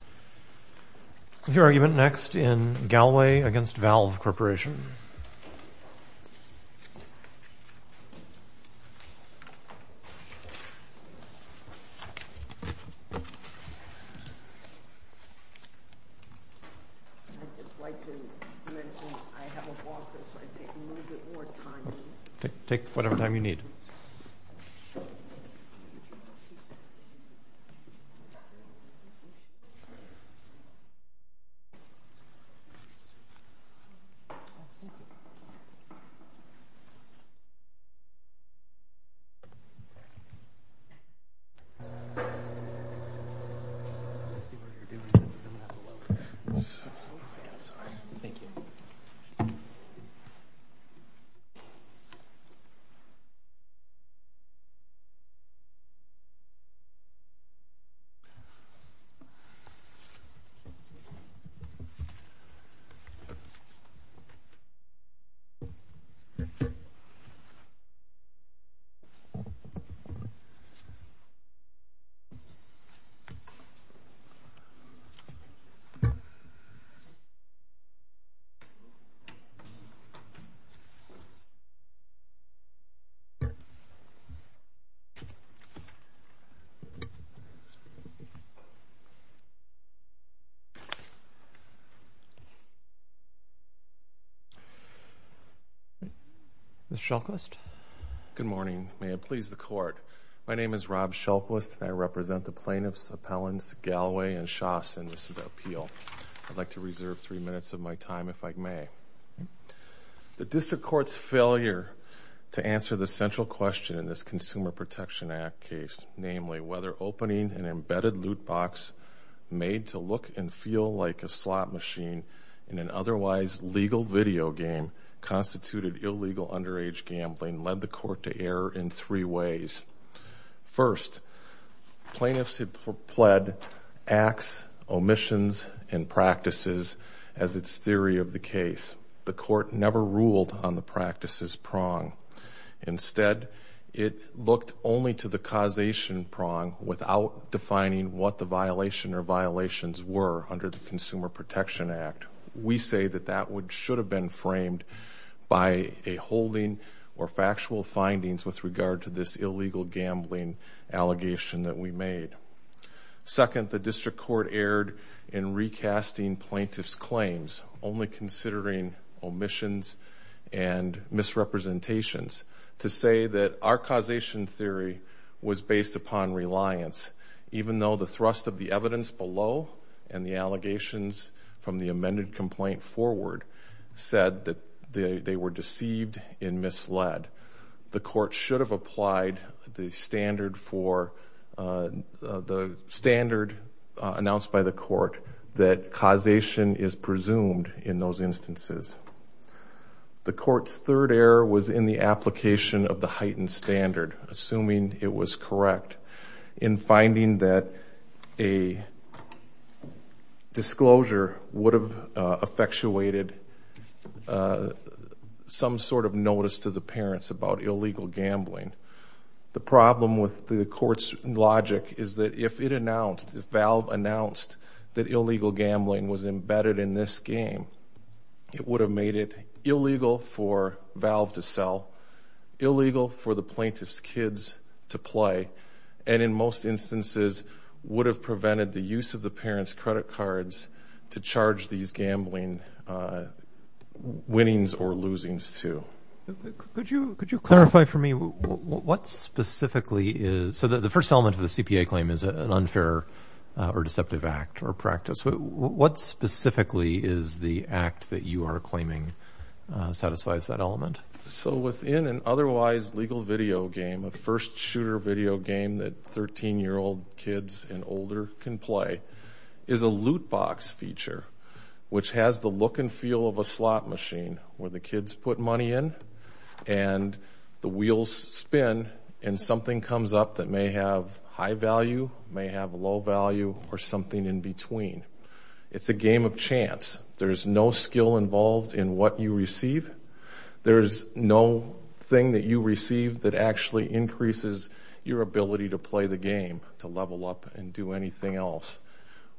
I'd just like to mention I have a walker, so I take a little bit more time. Take whatever time you need. I'd just like to mention I have a walker, so I take a little bit more time. Mr. Shelclist? Good morning. May it please the Court. My name is Rob Shelclist, and I represent the plaintiffs Appellants Galloway and Shost in this appeal. I'd like to reserve three minutes of my time, if I may. The district court's failure to answer the central question in this Consumer Protection Act case, namely whether opening an embedded loot box made to look and feel like a slot machine in an otherwise legal video game constituted illegal underage gambling, led the court to err in three ways. First, plaintiffs have pled acts, omissions, and practices as its theory of the case. The court never ruled on the practices prong. Instead, it looked only to the causation prong without defining what the violation or violations were under the Consumer Protection Act. We say that that should have been framed by a holding or factual findings with regard to this illegal gambling allegation that we made. Second, the district court erred in recasting plaintiffs' claims, only considering omissions and misrepresentations, to say that our causation theory was based upon reliance, even though the thrust of the evidence below and the allegations from the amended complaint forward said that they were deceived and misled. The court should have applied the standard announced by the court that causation is presumed in those instances. The court's third error was in the application of the heightened standard, assuming it was about illegal gambling. The problem with the court's logic is that if it announced, if Valve announced that illegal gambling was embedded in this game, it would have made it illegal for Valve to sell, illegal for the plaintiff's kids to play, and in most instances would have prevented the use of the parents' credit cards to charge these gambling winnings or losings to. Could you clarify for me what specifically is, so the first element of the CPA claim is an unfair or deceptive act or practice. What specifically is the act that you are claiming satisfies that element? So within an otherwise legal video game, a first shooter video game that 13-year-old kids and older can play, is a loot box feature which has the look and feel of a slot machine where the kids put money in and the wheels spin and something comes up that may have high value, may have low value, or something in between. It's a game of chance. There's no skill involved in what you receive. There's no thing that you receive that actually increases your ability to play the game, to level up and do anything else.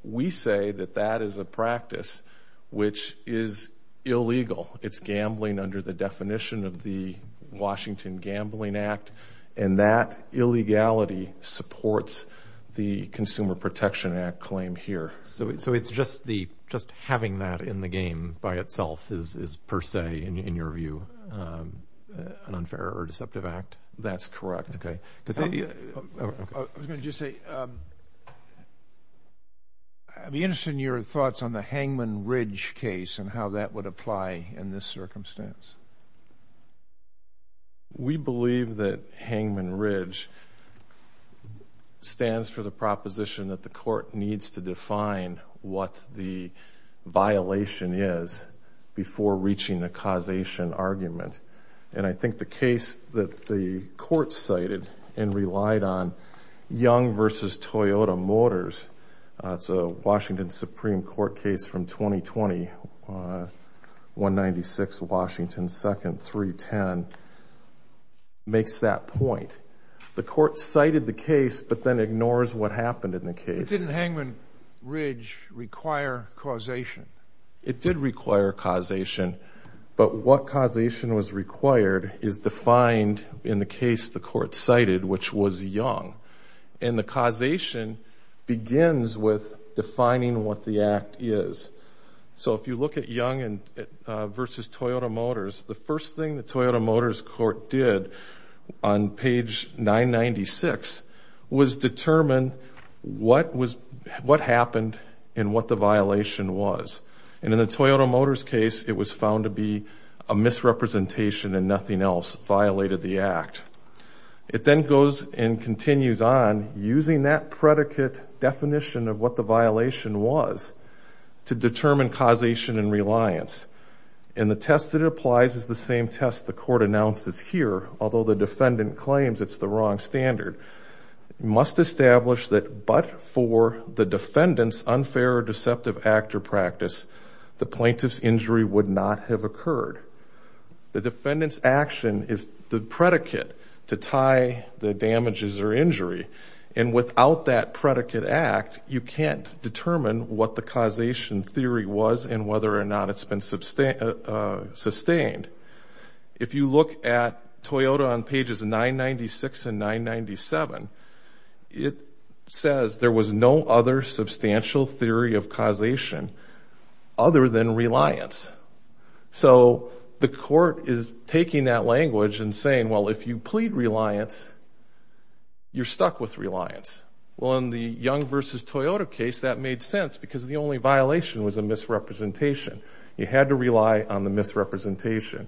We say that that is a practice which is illegal. It's gambling under the definition of the Washington Gambling Act, and that illegality supports the Consumer Protection Act claim here. So it's just having that in the game by itself is per se, in your view, an unfair or deceptive act? That's correct. I was going to just say, I'd be interested in your thoughts on the Hangman Ridge case and how that would apply in this circumstance. We believe that Hangman Ridge stands for the proposition that the court needs to define what the violation is before reaching a causation argument. And I think the case that the court cited and relied on, Young v. Toyota Motors, it's a Washington Supreme Court case from 2020, 196 Washington 2nd, 310, makes that point. The court cited the case but then ignores what happened in the case. Didn't Hangman Ridge require causation? It did require causation, but what causation was required is defined in the case the court cited, which was Young, and the causation begins with defining what the act is. So if you look at Young v. Toyota Motors, the first thing the Toyota Motors court did on page 996 was determine what happened and what the violation was. And in the Toyota Motors case, it was found to be a misrepresentation and nothing else violated the act. It then goes and continues on using that predicate definition of what the violation was to determine causation and reliance. And the test that it applies is the same test the court announces here, although the defendant claims it's the wrong standard, must establish that but for the defendant's unfair or deceptive act or practice, the plaintiff's injury would not have occurred. The defendant's action is the predicate to tie the damages or injury, and without that predicate act, you can't determine what the causation theory was and whether or not it's been sustained. If you look at Toyota on pages 996 and 997, it says there was no other substantial theory of causation other than reliance. So the court is taking that language and saying, well, if you plead reliance, you're stuck with reliance. Well, in the Young v. Toyota case, that made sense because the only violation was a misrepresentation. You had to rely on the misrepresentation.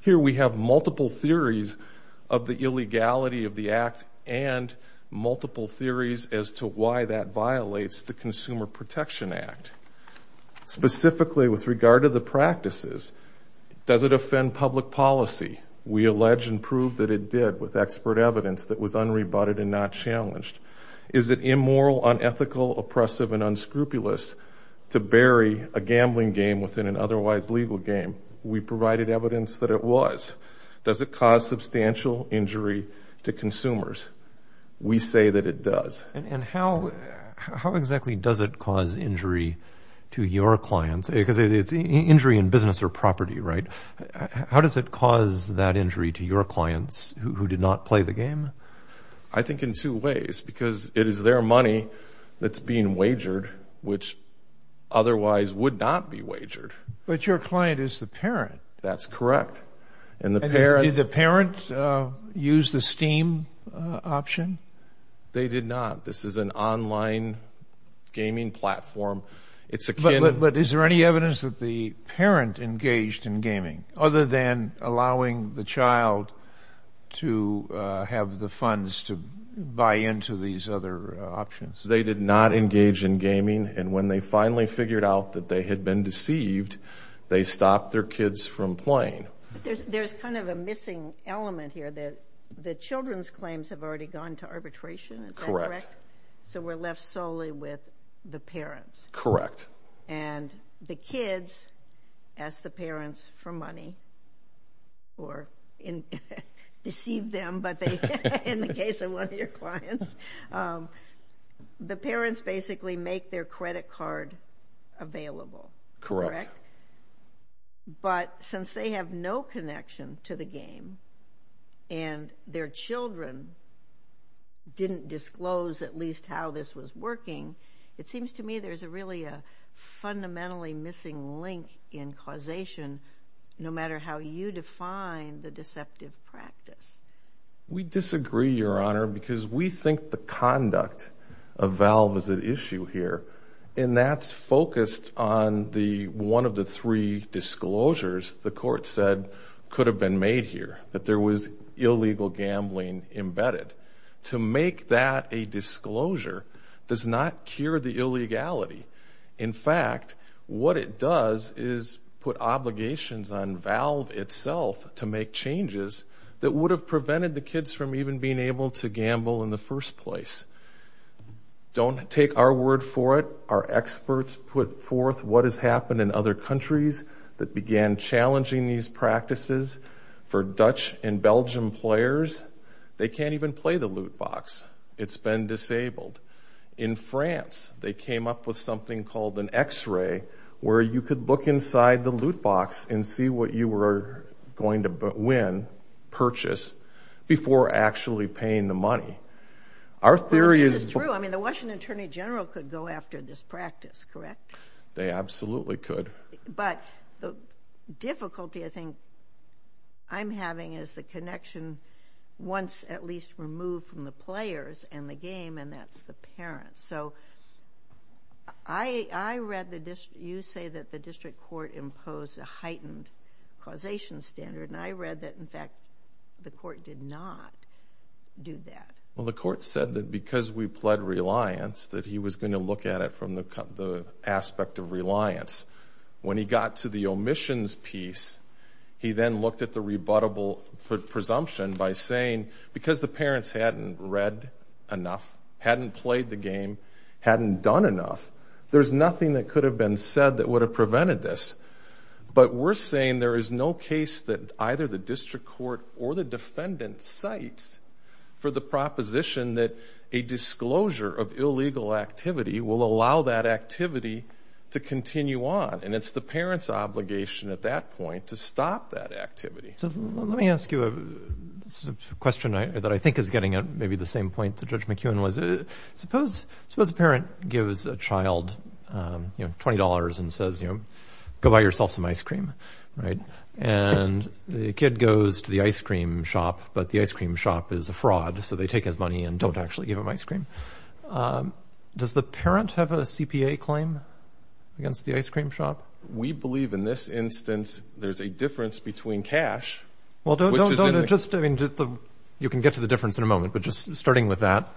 Here we have multiple theories of the illegality of the act and multiple theories as to why that violates the Consumer Protection Act. Specifically, with regard to the practices, does it offend public policy? We allege and prove that it did with expert evidence that was unrebutted and not challenged. Is it immoral, unethical, oppressive, and unscrupulous to bury a gambling game within an otherwise legal game? We provided evidence that it was. Does it cause substantial injury to consumers? We say that it does. And how exactly does it cause injury to your clients? Because it's injury in business or property, right? I think in two ways, because it is their money that's being wagered, which otherwise would not be wagered. But your client is the parent. That's correct. And the parent... Did the parent use the Steam option? They did not. This is an online gaming platform. It's akin... But is there any evidence that the parent engaged in gaming, other than allowing the funds to buy into these other options? They did not engage in gaming. And when they finally figured out that they had been deceived, they stopped their kids from playing. There's kind of a missing element here that the children's claims have already gone to arbitration. Is that correct? Correct. So we're left solely with the parents. Correct. Correct. And the kids ask the parents for money, or deceive them, in the case of one of your clients. The parents basically make their credit card available, correct? Correct. But since they have no connection to the game, and their children didn't disclose at least how this was working, it seems to me there's really a fundamentally missing link in causation, no matter how you define the deceptive practice. We disagree, Your Honor, because we think the conduct of Valve is at issue here. And that's focused on one of the three disclosures the court said could have been made here, that there was illegal gambling embedded. To make that a disclosure does not cure the illegality. In fact, what it does is put obligations on Valve itself to make changes that would have prevented the kids from even being able to gamble in the first place. Don't take our word for it. Our experts put forth what has happened in other countries that began challenging these practices for Dutch and Belgian players. They can't even play the loot box. It's been disabled. In France, they came up with something called an X-ray, where you could look inside the loot box and see what you were going to win, purchase, before actually paying the money. Our theory is- Well, this is true. I mean, the Washington Attorney General could go after this practice, correct? They absolutely could. But the difficulty, I think, I'm having is the connection once at least removed from the players and the game, and that's the parents. So I read the- you say that the district court imposed a heightened causation standard, and I read that, in fact, the court did not do that. Well, the court said that because we pled reliance, that he was going to look at it from the aspect of reliance. When he got to the omissions piece, he then looked at the rebuttable presumption by saying because the parents hadn't read enough, hadn't played the game, hadn't done enough, there's nothing that could have been said that would have prevented this. But we're saying there is no case that either the district court or the defendant cites for the proposition that a disclosure of illegal activity will allow that activity to continue on. And it's the parent's obligation at that point to stop that activity. So let me ask you a question that I think is getting at maybe the same point that Judge McEwen was. Suppose a parent gives a child, you know, $20 and says, you know, go buy yourself some ice cream, right? And the kid goes to the ice cream shop, but the ice cream shop is a fraud, so they take his money and don't actually give him ice cream. Does the parent have a CPA claim against the ice cream shop? We believe in this instance there's a difference between cash, which is in the... Well, don't, don't, don't. Just, I mean, you can get to the difference in a moment, but just starting with that,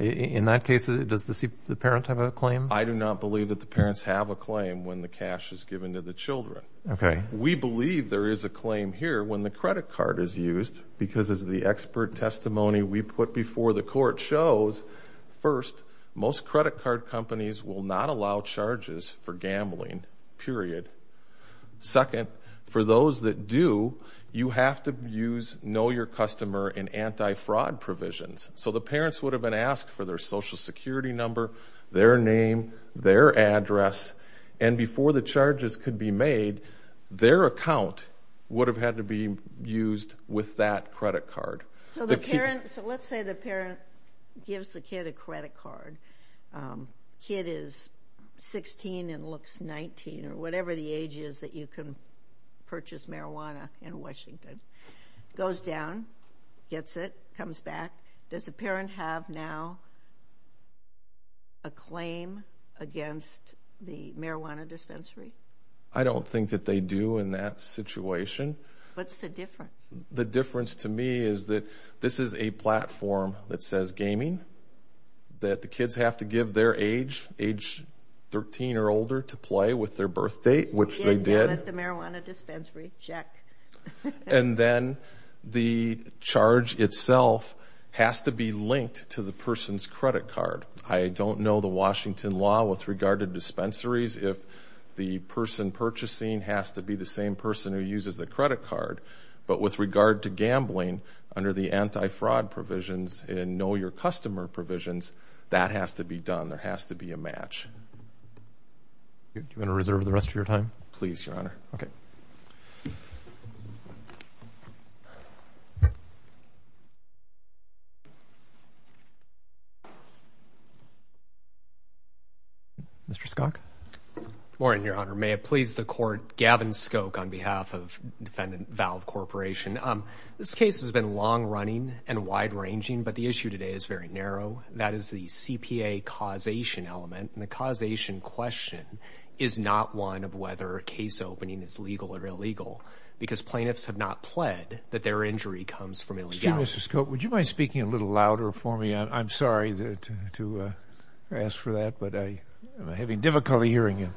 in that case, does the parent have a claim? I do not believe that the parents have a claim when the cash is given to the children. Okay. We believe there is a claim here when the credit card is used, because as the expert testimony we put before the court shows, first, most credit card companies will not allow charges for gambling, period. Second, for those that do, you have to use know your customer and anti-fraud provisions. So the parents would have been asked for their social security number, their name, their account would have had to be used with that credit card. So the parent, so let's say the parent gives the kid a credit card. Kid is 16 and looks 19, or whatever the age is that you can purchase marijuana in Washington. Goes down, gets it, comes back. Does the parent have now a claim against the marijuana dispensary? I don't think that they do in that situation. What's the difference? The difference to me is that this is a platform that says gaming, that the kids have to give their age, age 13 or older, to play with their birth date, which they did. Get down at the marijuana dispensary, check. And then the charge itself has to be linked to the person's credit card. I don't know the Washington law with regard to dispensaries. If the person purchasing has to be the same person who uses the credit card. But with regard to gambling, under the anti-fraud provisions and know your customer provisions, that has to be done. There has to be a match. Do you want to reserve the rest of your time? Please, Your Honor. Okay. Mr. Skok? Good morning, Your Honor. May it please the court, Gavin Skok on behalf of Defendant Valve Corporation. This case has been long running and wide ranging, but the issue today is very narrow. That is the CPA causation element, and the causation question is not one of whether case opening is legal or illegal, because plaintiffs have not pled that their injury comes from illegality. Excuse me, Mr. Skok. Would you mind speaking a little louder for me? I'm sorry to ask for that, but I'm having difficulty hearing you.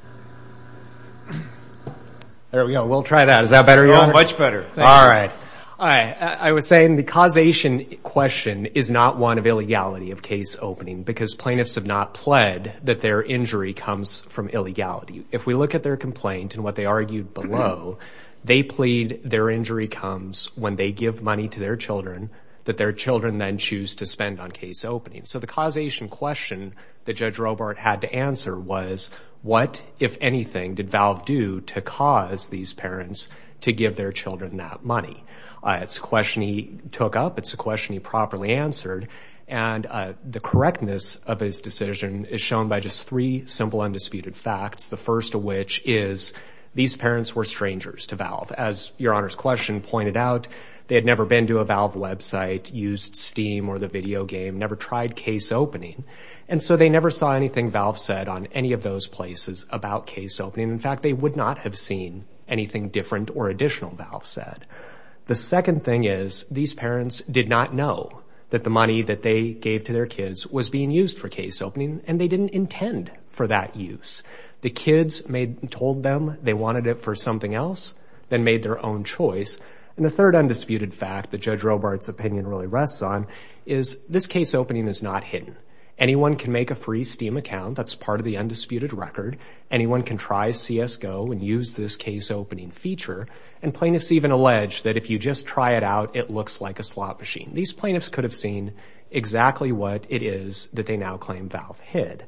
There we go. We'll try that. Is that better, Your Honor? Much better. All right. All right. I was saying the causation question is not one of illegality of case opening, because plaintiffs have not pled that their injury comes from illegality. If we look at their complaint and what they argued below, they plead their injury comes when they give money to their children that their children then choose to spend on case opening. So the causation question that Judge Robart had to answer was, what, if anything, did Valve do to cause these parents to give their children that money? It's a question he took up. It's a question he properly answered, and the correctness of his decision is shown by just three simple, undisputed facts. The first of which is, these parents were strangers to Valve. As Your Honor's question pointed out, they had never been to a Valve website, used Steam or the video game, never tried case opening, and so they never saw anything Valve said on any of those places about case opening. In fact, they would not have seen anything different or additional Valve said. The second thing is, these parents did not know that the money that they gave to their kids was being used for case opening, and they didn't intend for that use. The kids told them they wanted it for something else, then made their own choice. And the third undisputed fact that Judge Robart's opinion really rests on is, this case opening is not hidden. Anyone can make a free Steam account. That's part of the undisputed record. Anyone can try CSGO and use this case opening feature. And plaintiffs even allege that if you just try it out, it looks like a slot machine. These plaintiffs could have seen exactly what it is that they now claim Valve hid.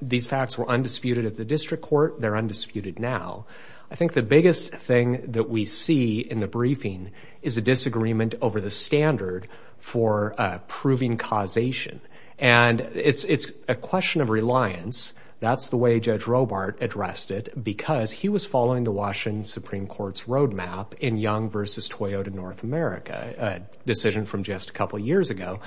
These facts were undisputed at the district court. They're undisputed now. I think the biggest thing that we see in the briefing is a disagreement over the standard for proving causation. And it's a question of reliance. That's the way Judge Robart addressed it, because he was following the Washington Supreme Court's roadmap in Young versus Toyota North America, a decision from just a couple years ago,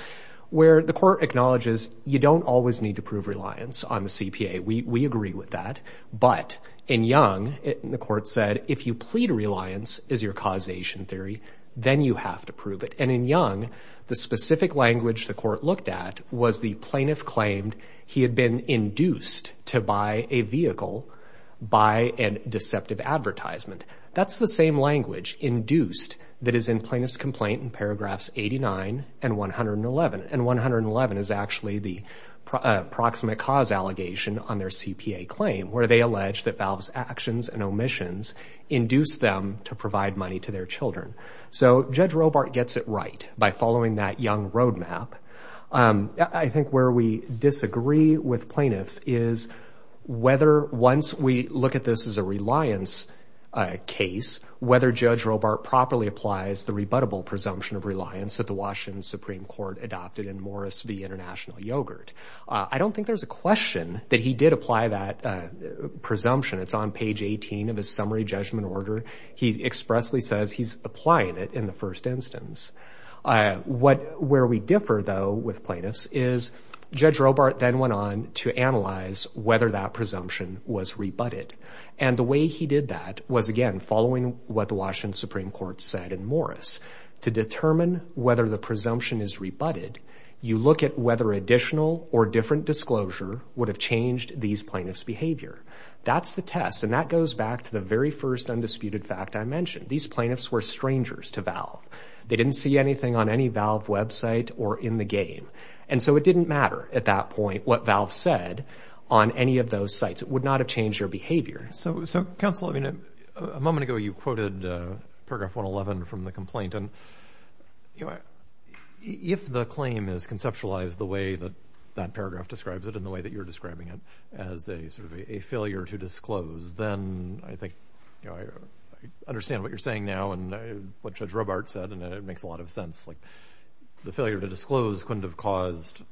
where the court acknowledges you don't always need to prove reliance on the CPA. We agree with that. But in Young, the court said, if you plead reliance is your causation theory, then you have to prove it. And in Young, the specific language the court looked at was the plaintiff claimed he had been induced to buy a vehicle by a deceptive advertisement. That's the same language, induced, that is in Plaintiff's Complaint in paragraphs 89 and 111. And 111 is actually the proximate cause allegation on their CPA claim, where they allege that Valve's actions and omissions induced them to provide money to their children. So Judge Robart gets it right by following that Young roadmap. I think where we disagree with plaintiffs is whether, once we look at this as a reliance case, whether Judge Robart properly applies the rebuttable presumption of reliance that the Washington Supreme Court adopted in Morris v. International Yogurt. I don't think there's a question that he did apply that presumption. It's on page 18 of his summary judgment order. He expressly says he's applying it in the first instance. Where we differ, though, with plaintiffs is Judge Robart then went on to analyze whether that presumption was rebutted. And the way he did that was, again, following what the Washington Supreme Court said in Morris. To determine whether the presumption is rebutted, you look at whether additional or different disclosure would have changed these plaintiffs' behavior. That's the test. And that goes back to the very first undisputed fact I mentioned. These plaintiffs were strangers to Valve. They didn't see anything on any Valve website or in the game. And so it didn't matter at that point what Valve said on any of those sites. It would not have changed their behavior. So counsel, I mean, a moment ago you quoted paragraph 111 from the complaint, and if the claim is conceptualized the way that that paragraph describes it and the way that you're describing it as a sort of a failure to disclose, then I think I understand what you're saying now and what Judge Robart said, and it makes a lot of sense. The failure to disclose couldn't have caused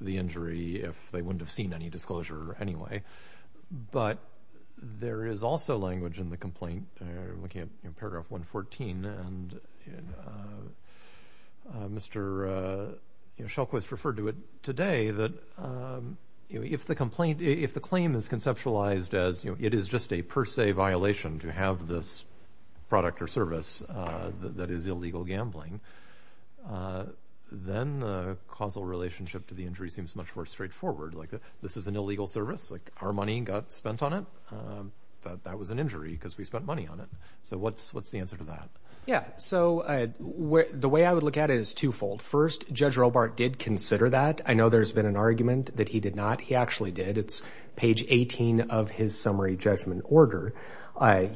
the injury if they wouldn't have seen any disclosure anyway. But there is also language in the complaint, looking at paragraph 114, and Mr. Shelquist referred to it today, that if the claim is conceptualized as it is just a per se violation to have this product or service that is illegal gambling, then the causal relationship to the injury seems much more straightforward. Like this is an illegal service, like our money got spent on it, but that was an injury because we spent money on it. So what's the answer to that? Yeah, so the way I would look at it is twofold. First, Judge Robart did consider that. I know there's been an argument that he did not. He actually did. It's page 18 of his summary judgment order.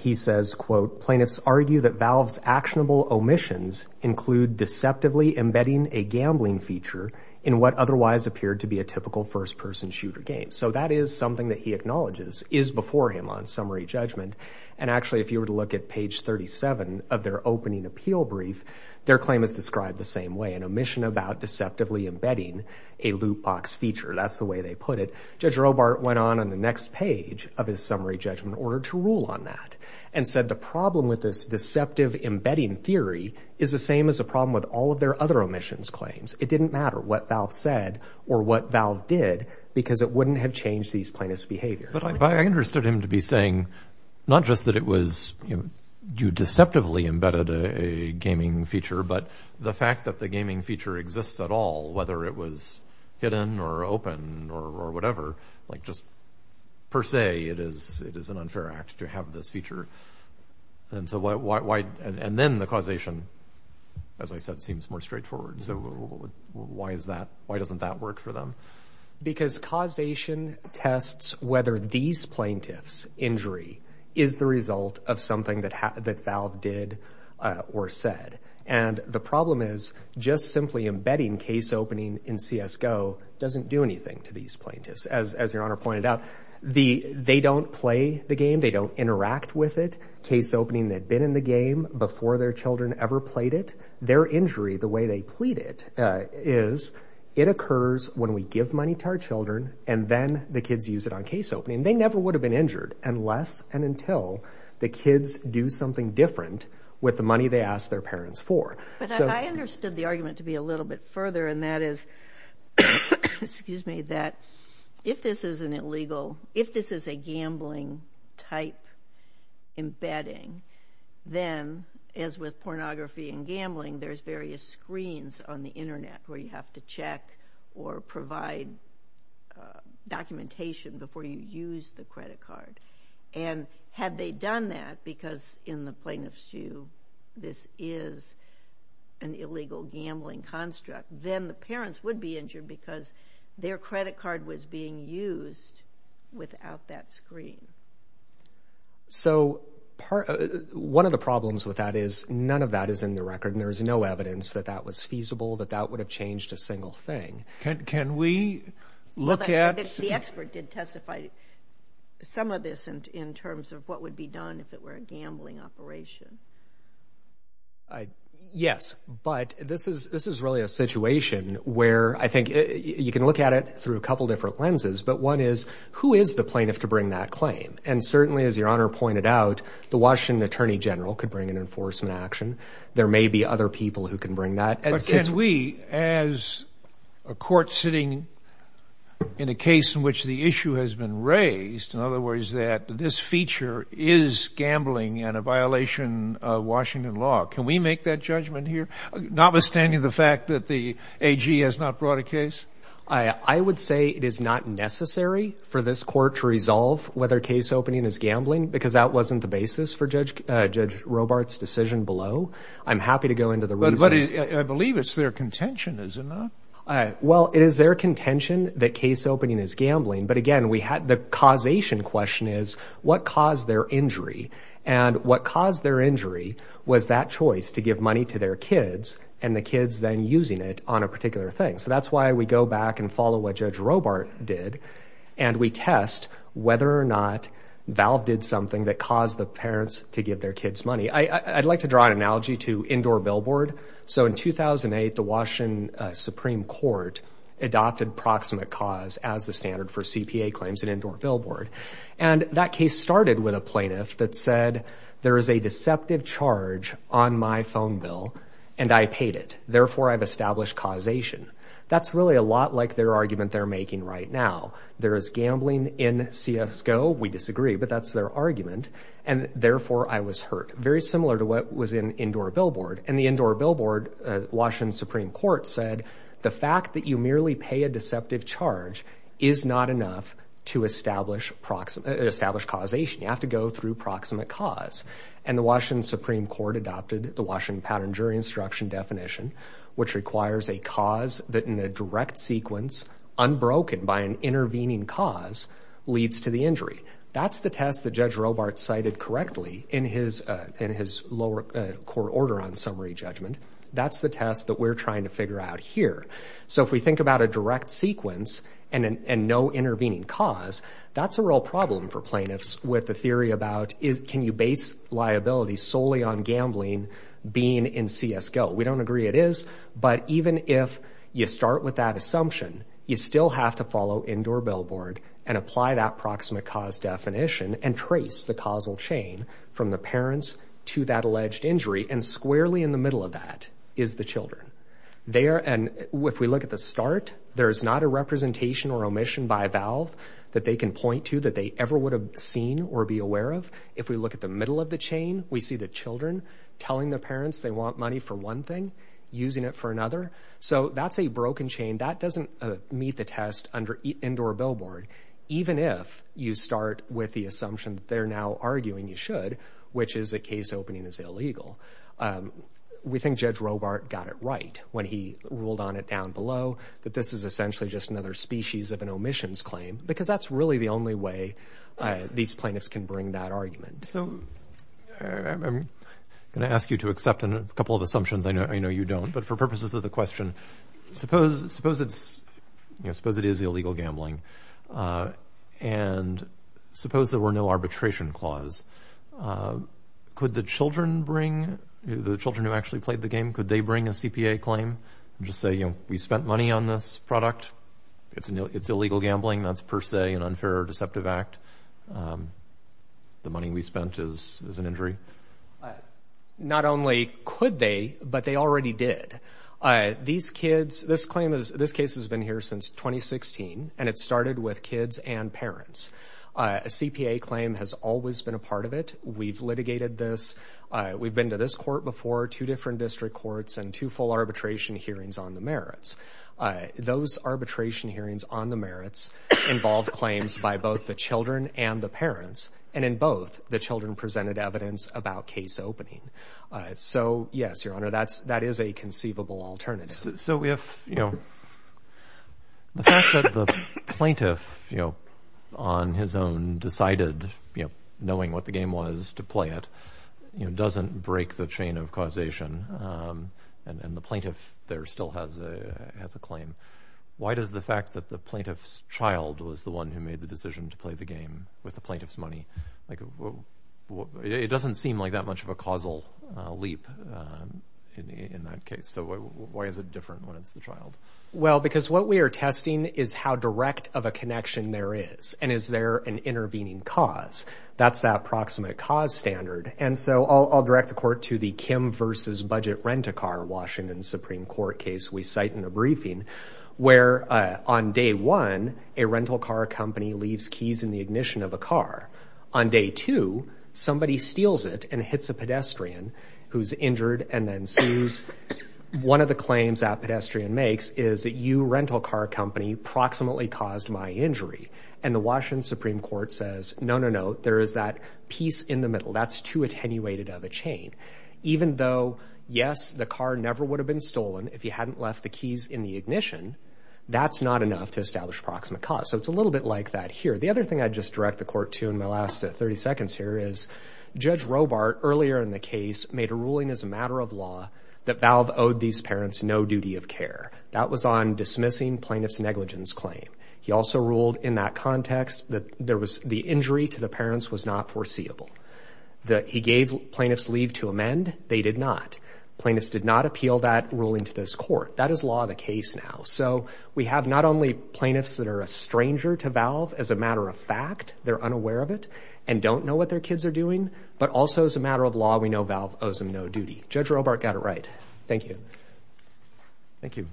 He says, quote, plaintiffs argue that Valve's actionable omissions include deceptively embedding a gambling feature in what otherwise appeared to be a typical first person shooter game. So that is something that he acknowledges is before him on summary judgment. And actually, if you were to look at page 37 of their opening appeal brief, their claim is described the same way, an omission about deceptively embedding a loot box feature. That's the way they put it. Judge Robart went on in the next page of his summary judgment order to rule on that and said the problem with this deceptive embedding theory is the same as a problem with all of their other omissions claims. It didn't matter what Valve said or what Valve did because it wouldn't have changed these plaintiffs' behavior. But I understood him to be saying not just that it was you deceptively embedded a gaming feature, but the fact that the gaming feature exists at all, whether it was hidden or open or whatever, like just per se, it is an unfair act to have this feature. And so why? And then the causation, as I said, seems more straightforward. So why is that? Why doesn't that work for them? Because causation tests whether these plaintiffs' injury is the result of something that Valve did or said. And the problem is just simply embedding case opening in CSGO doesn't do anything to these plaintiffs. As your Honor pointed out, they don't play the game. They don't interact with it. Case opening had been in the game before their children ever played it. Their injury, the way they plead it, is it occurs when we give money to our children and then the kids use it on case opening. They never would have been injured unless and until the kids do something different with the money they ask their parents for. But I understood the argument to be a little bit further and that is, excuse me, that if this is an illegal, if this is a gambling type embedding, then as with pornography and gambling, there's various screens on the internet where you have to check or provide documentation before you use the credit card. And had they done that, because in the plaintiff's view, this is an illegal gambling construct, then the parents would be injured because their credit card was being used without that screen. So one of the problems with that is none of that is in the record and there is no evidence that that was feasible, that that would have changed a single thing. Can we look at... The expert did testify to some of this in terms of what would be done if it were a gambling operation. Yes, but this is really a situation where I think you can look at it through a couple different lenses. But one is, who is the plaintiff to bring that claim? And certainly, as Your Honor pointed out, the Washington Attorney General could bring an enforcement action. There may be other people who can bring that. But can we, as a court sitting in a case in which the issue has been raised, in other words that this feature is gambling and a violation of Washington law, can we make that judgment here, notwithstanding the fact that the AG has not brought a case? I would say it is not necessary for this court to resolve whether case opening is gambling, because that wasn't the basis for Judge Robart's decision below. I'm happy to go into the reasons. But I believe it's their contention, is it not? Well, it is their contention that case opening is gambling. But again, the causation question is, what caused their injury? And what caused their injury was that choice to give money to their kids and the kids then using it on a particular thing. So that's why we go back and follow what Judge Robart did, and we test whether or not Valve did something that caused the parents to give their kids money. I'd like to draw an analogy to indoor billboard. So in 2008, the Washington Supreme Court adopted proximate cause as the standard for CPA claims in indoor billboard. And that case started with a plaintiff that said, there is a deceptive charge on my phone bill, and I paid it, therefore I've established causation. That's really a lot like their argument they're making right now. There is gambling in CSGO, we disagree, but that's their argument, and therefore I was Very similar to what was in indoor billboard. And the indoor billboard, Washington Supreme Court said, the fact that you merely pay a deceptive charge is not enough to establish causation. You have to go through proximate cause. And the Washington Supreme Court adopted the Washington Pattern Jury Instruction definition, which requires a cause that in a direct sequence, unbroken by an intervening cause, leads to the injury. That's the test that Judge Robart cited correctly in his lower court order on summary judgment. That's the test that we're trying to figure out here. So if we think about a direct sequence and no intervening cause, that's a real problem for plaintiffs with the theory about, can you base liability solely on gambling being in CSGO? We don't agree it is, but even if you start with that assumption, you still have to follow indoor billboard and apply that proximate cause definition and trace the causal chain from the parents to that alleged injury. And squarely in the middle of that is the children. If we look at the start, there's not a representation or omission by a valve that they can point to that they ever would have seen or be aware of. If we look at the middle of the chain, we see the children telling the parents they want money for one thing, using it for another. So that's a broken chain. That doesn't meet the test under indoor billboard, even if you start with the assumption they're now arguing you should, which is a case opening is illegal. We think Judge Robart got it right when he ruled on it down below that this is essentially just another species of an omissions claim, because that's really the only way these plaintiffs can bring that argument. So I'm going to ask you to accept a couple of assumptions I know you don't, but for purposes of the question, suppose it is illegal gambling, and suppose there were no arbitration clause. Could the children bring, the children who actually played the game, could they bring a CPA claim and just say, you know, we spent money on this product? It's illegal gambling. That's per se an unfair or deceptive act. The money we spent is an injury. And not only could they, but they already did. These kids, this claim is, this case has been here since 2016, and it started with kids and parents. A CPA claim has always been a part of it. We've litigated this. We've been to this court before, two different district courts, and two full arbitration hearings on the merits. Those arbitration hearings on the merits involved claims by both the children and the parents, and in both, the children presented evidence about case opening. So yes, Your Honor, that is a conceivable alternative. So if, you know, the fact that the plaintiff, you know, on his own decided, you know, knowing what the game was to play it, you know, doesn't break the chain of causation, and the plaintiff there still has a claim, why does the fact that the plaintiff's child was the one who made the decision to play the game with the plaintiff's money, like, it doesn't seem like that much of a causal leap in that case. So why is it different when it's the child? Well, because what we are testing is how direct of a connection there is, and is there an intervening cause. That's that proximate cause standard. And so I'll direct the court to the Kim versus budget rent-a-car Washington Supreme Court case we cite in the briefing, where on day one, a rental car company leaves keys in the ignition of a car. On day two, somebody steals it and hits a pedestrian who's injured and then sues. One of the claims that pedestrian makes is that you rental car company proximately caused my injury. And the Washington Supreme Court says, no, no, no, there is that piece in the middle. That's too attenuated of a chain. Even though, yes, the car never would have been stolen if you hadn't left the keys in the ignition, that's not enough to establish proximate cause. So it's a little bit like that here. The other thing I'd just direct the court to in my last 30 seconds here is, Judge Robart earlier in the case made a ruling as a matter of law that Valve owed these parents no duty of care. That was on dismissing plaintiff's negligence claim. He also ruled in that context that there was the injury to the parents was not foreseeable. He gave plaintiff's leave to amend. They did not. Plaintiffs did not appeal that ruling to this court. That is law of the case now. So we have not only plaintiffs that are a stranger to Valve as a matter of fact, they're unaware of it and don't know what their kids are doing, but also as a matter of law, we know Valve owes them no duty. Judge Robart got it right. Thank you. Thank you.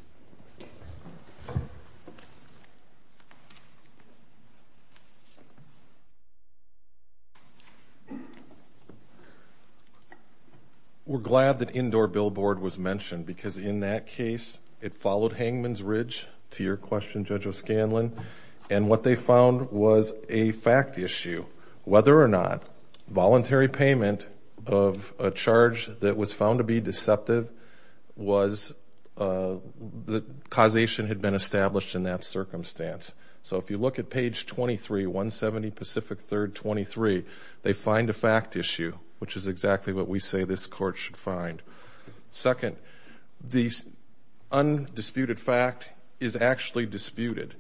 We're glad that indoor billboard was mentioned because in that case, it followed hangman's ridge to your question, Judge O'Scanlan. And what they found was a fact issue, whether or not voluntary payment of a charge that was found to be deceptive, the causation had been established in that circumstance. So if you look at page 23, 170 Pacific 3rd, 23, they find a fact issue, which is exactly what we say this court should find. Second, the undisputed fact is actually disputed.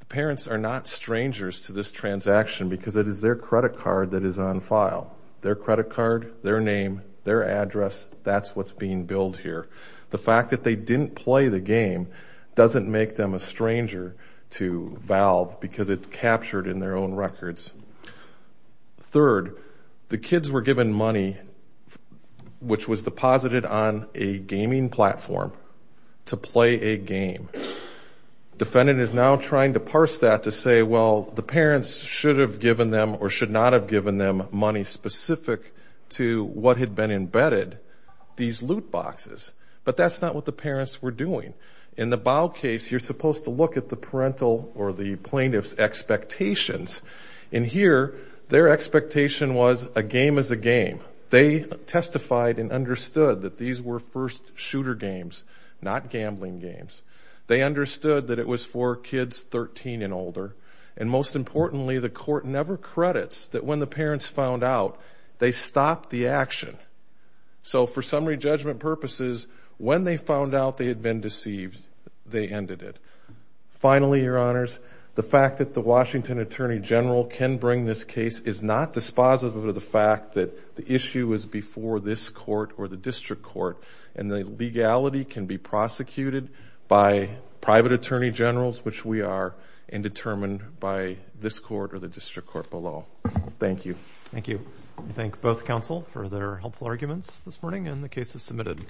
The parents are not strangers to this transaction because it is their credit card that is on file. Their credit card, their name, their address, that's what's being billed here. The fact that they didn't play the game doesn't make them a stranger to Valve because it's captured in their own records. Third, the kids were given money, which was deposited on a gaming platform to play a game. Defendant is now trying to parse that to say, well, the parents should have given them or to what had been embedded, these loot boxes. But that's not what the parents were doing. In the Bao case, you're supposed to look at the parental or the plaintiff's expectations. In here, their expectation was a game is a game. They testified and understood that these were first shooter games, not gambling games. They understood that it was for kids 13 and older. And most importantly, the court never credits that when the parents found out, they stopped the action. So for summary judgment purposes, when they found out they had been deceived, they ended it. Finally, your honors, the fact that the Washington attorney general can bring this case is not dispositive of the fact that the issue is before this court or the district court and the legality can be prosecuted by private attorney generals, which we are indetermined by this court or the district court below. Thank you. Thank you. I thank both counsel for their helpful arguments this morning and the case is submitted.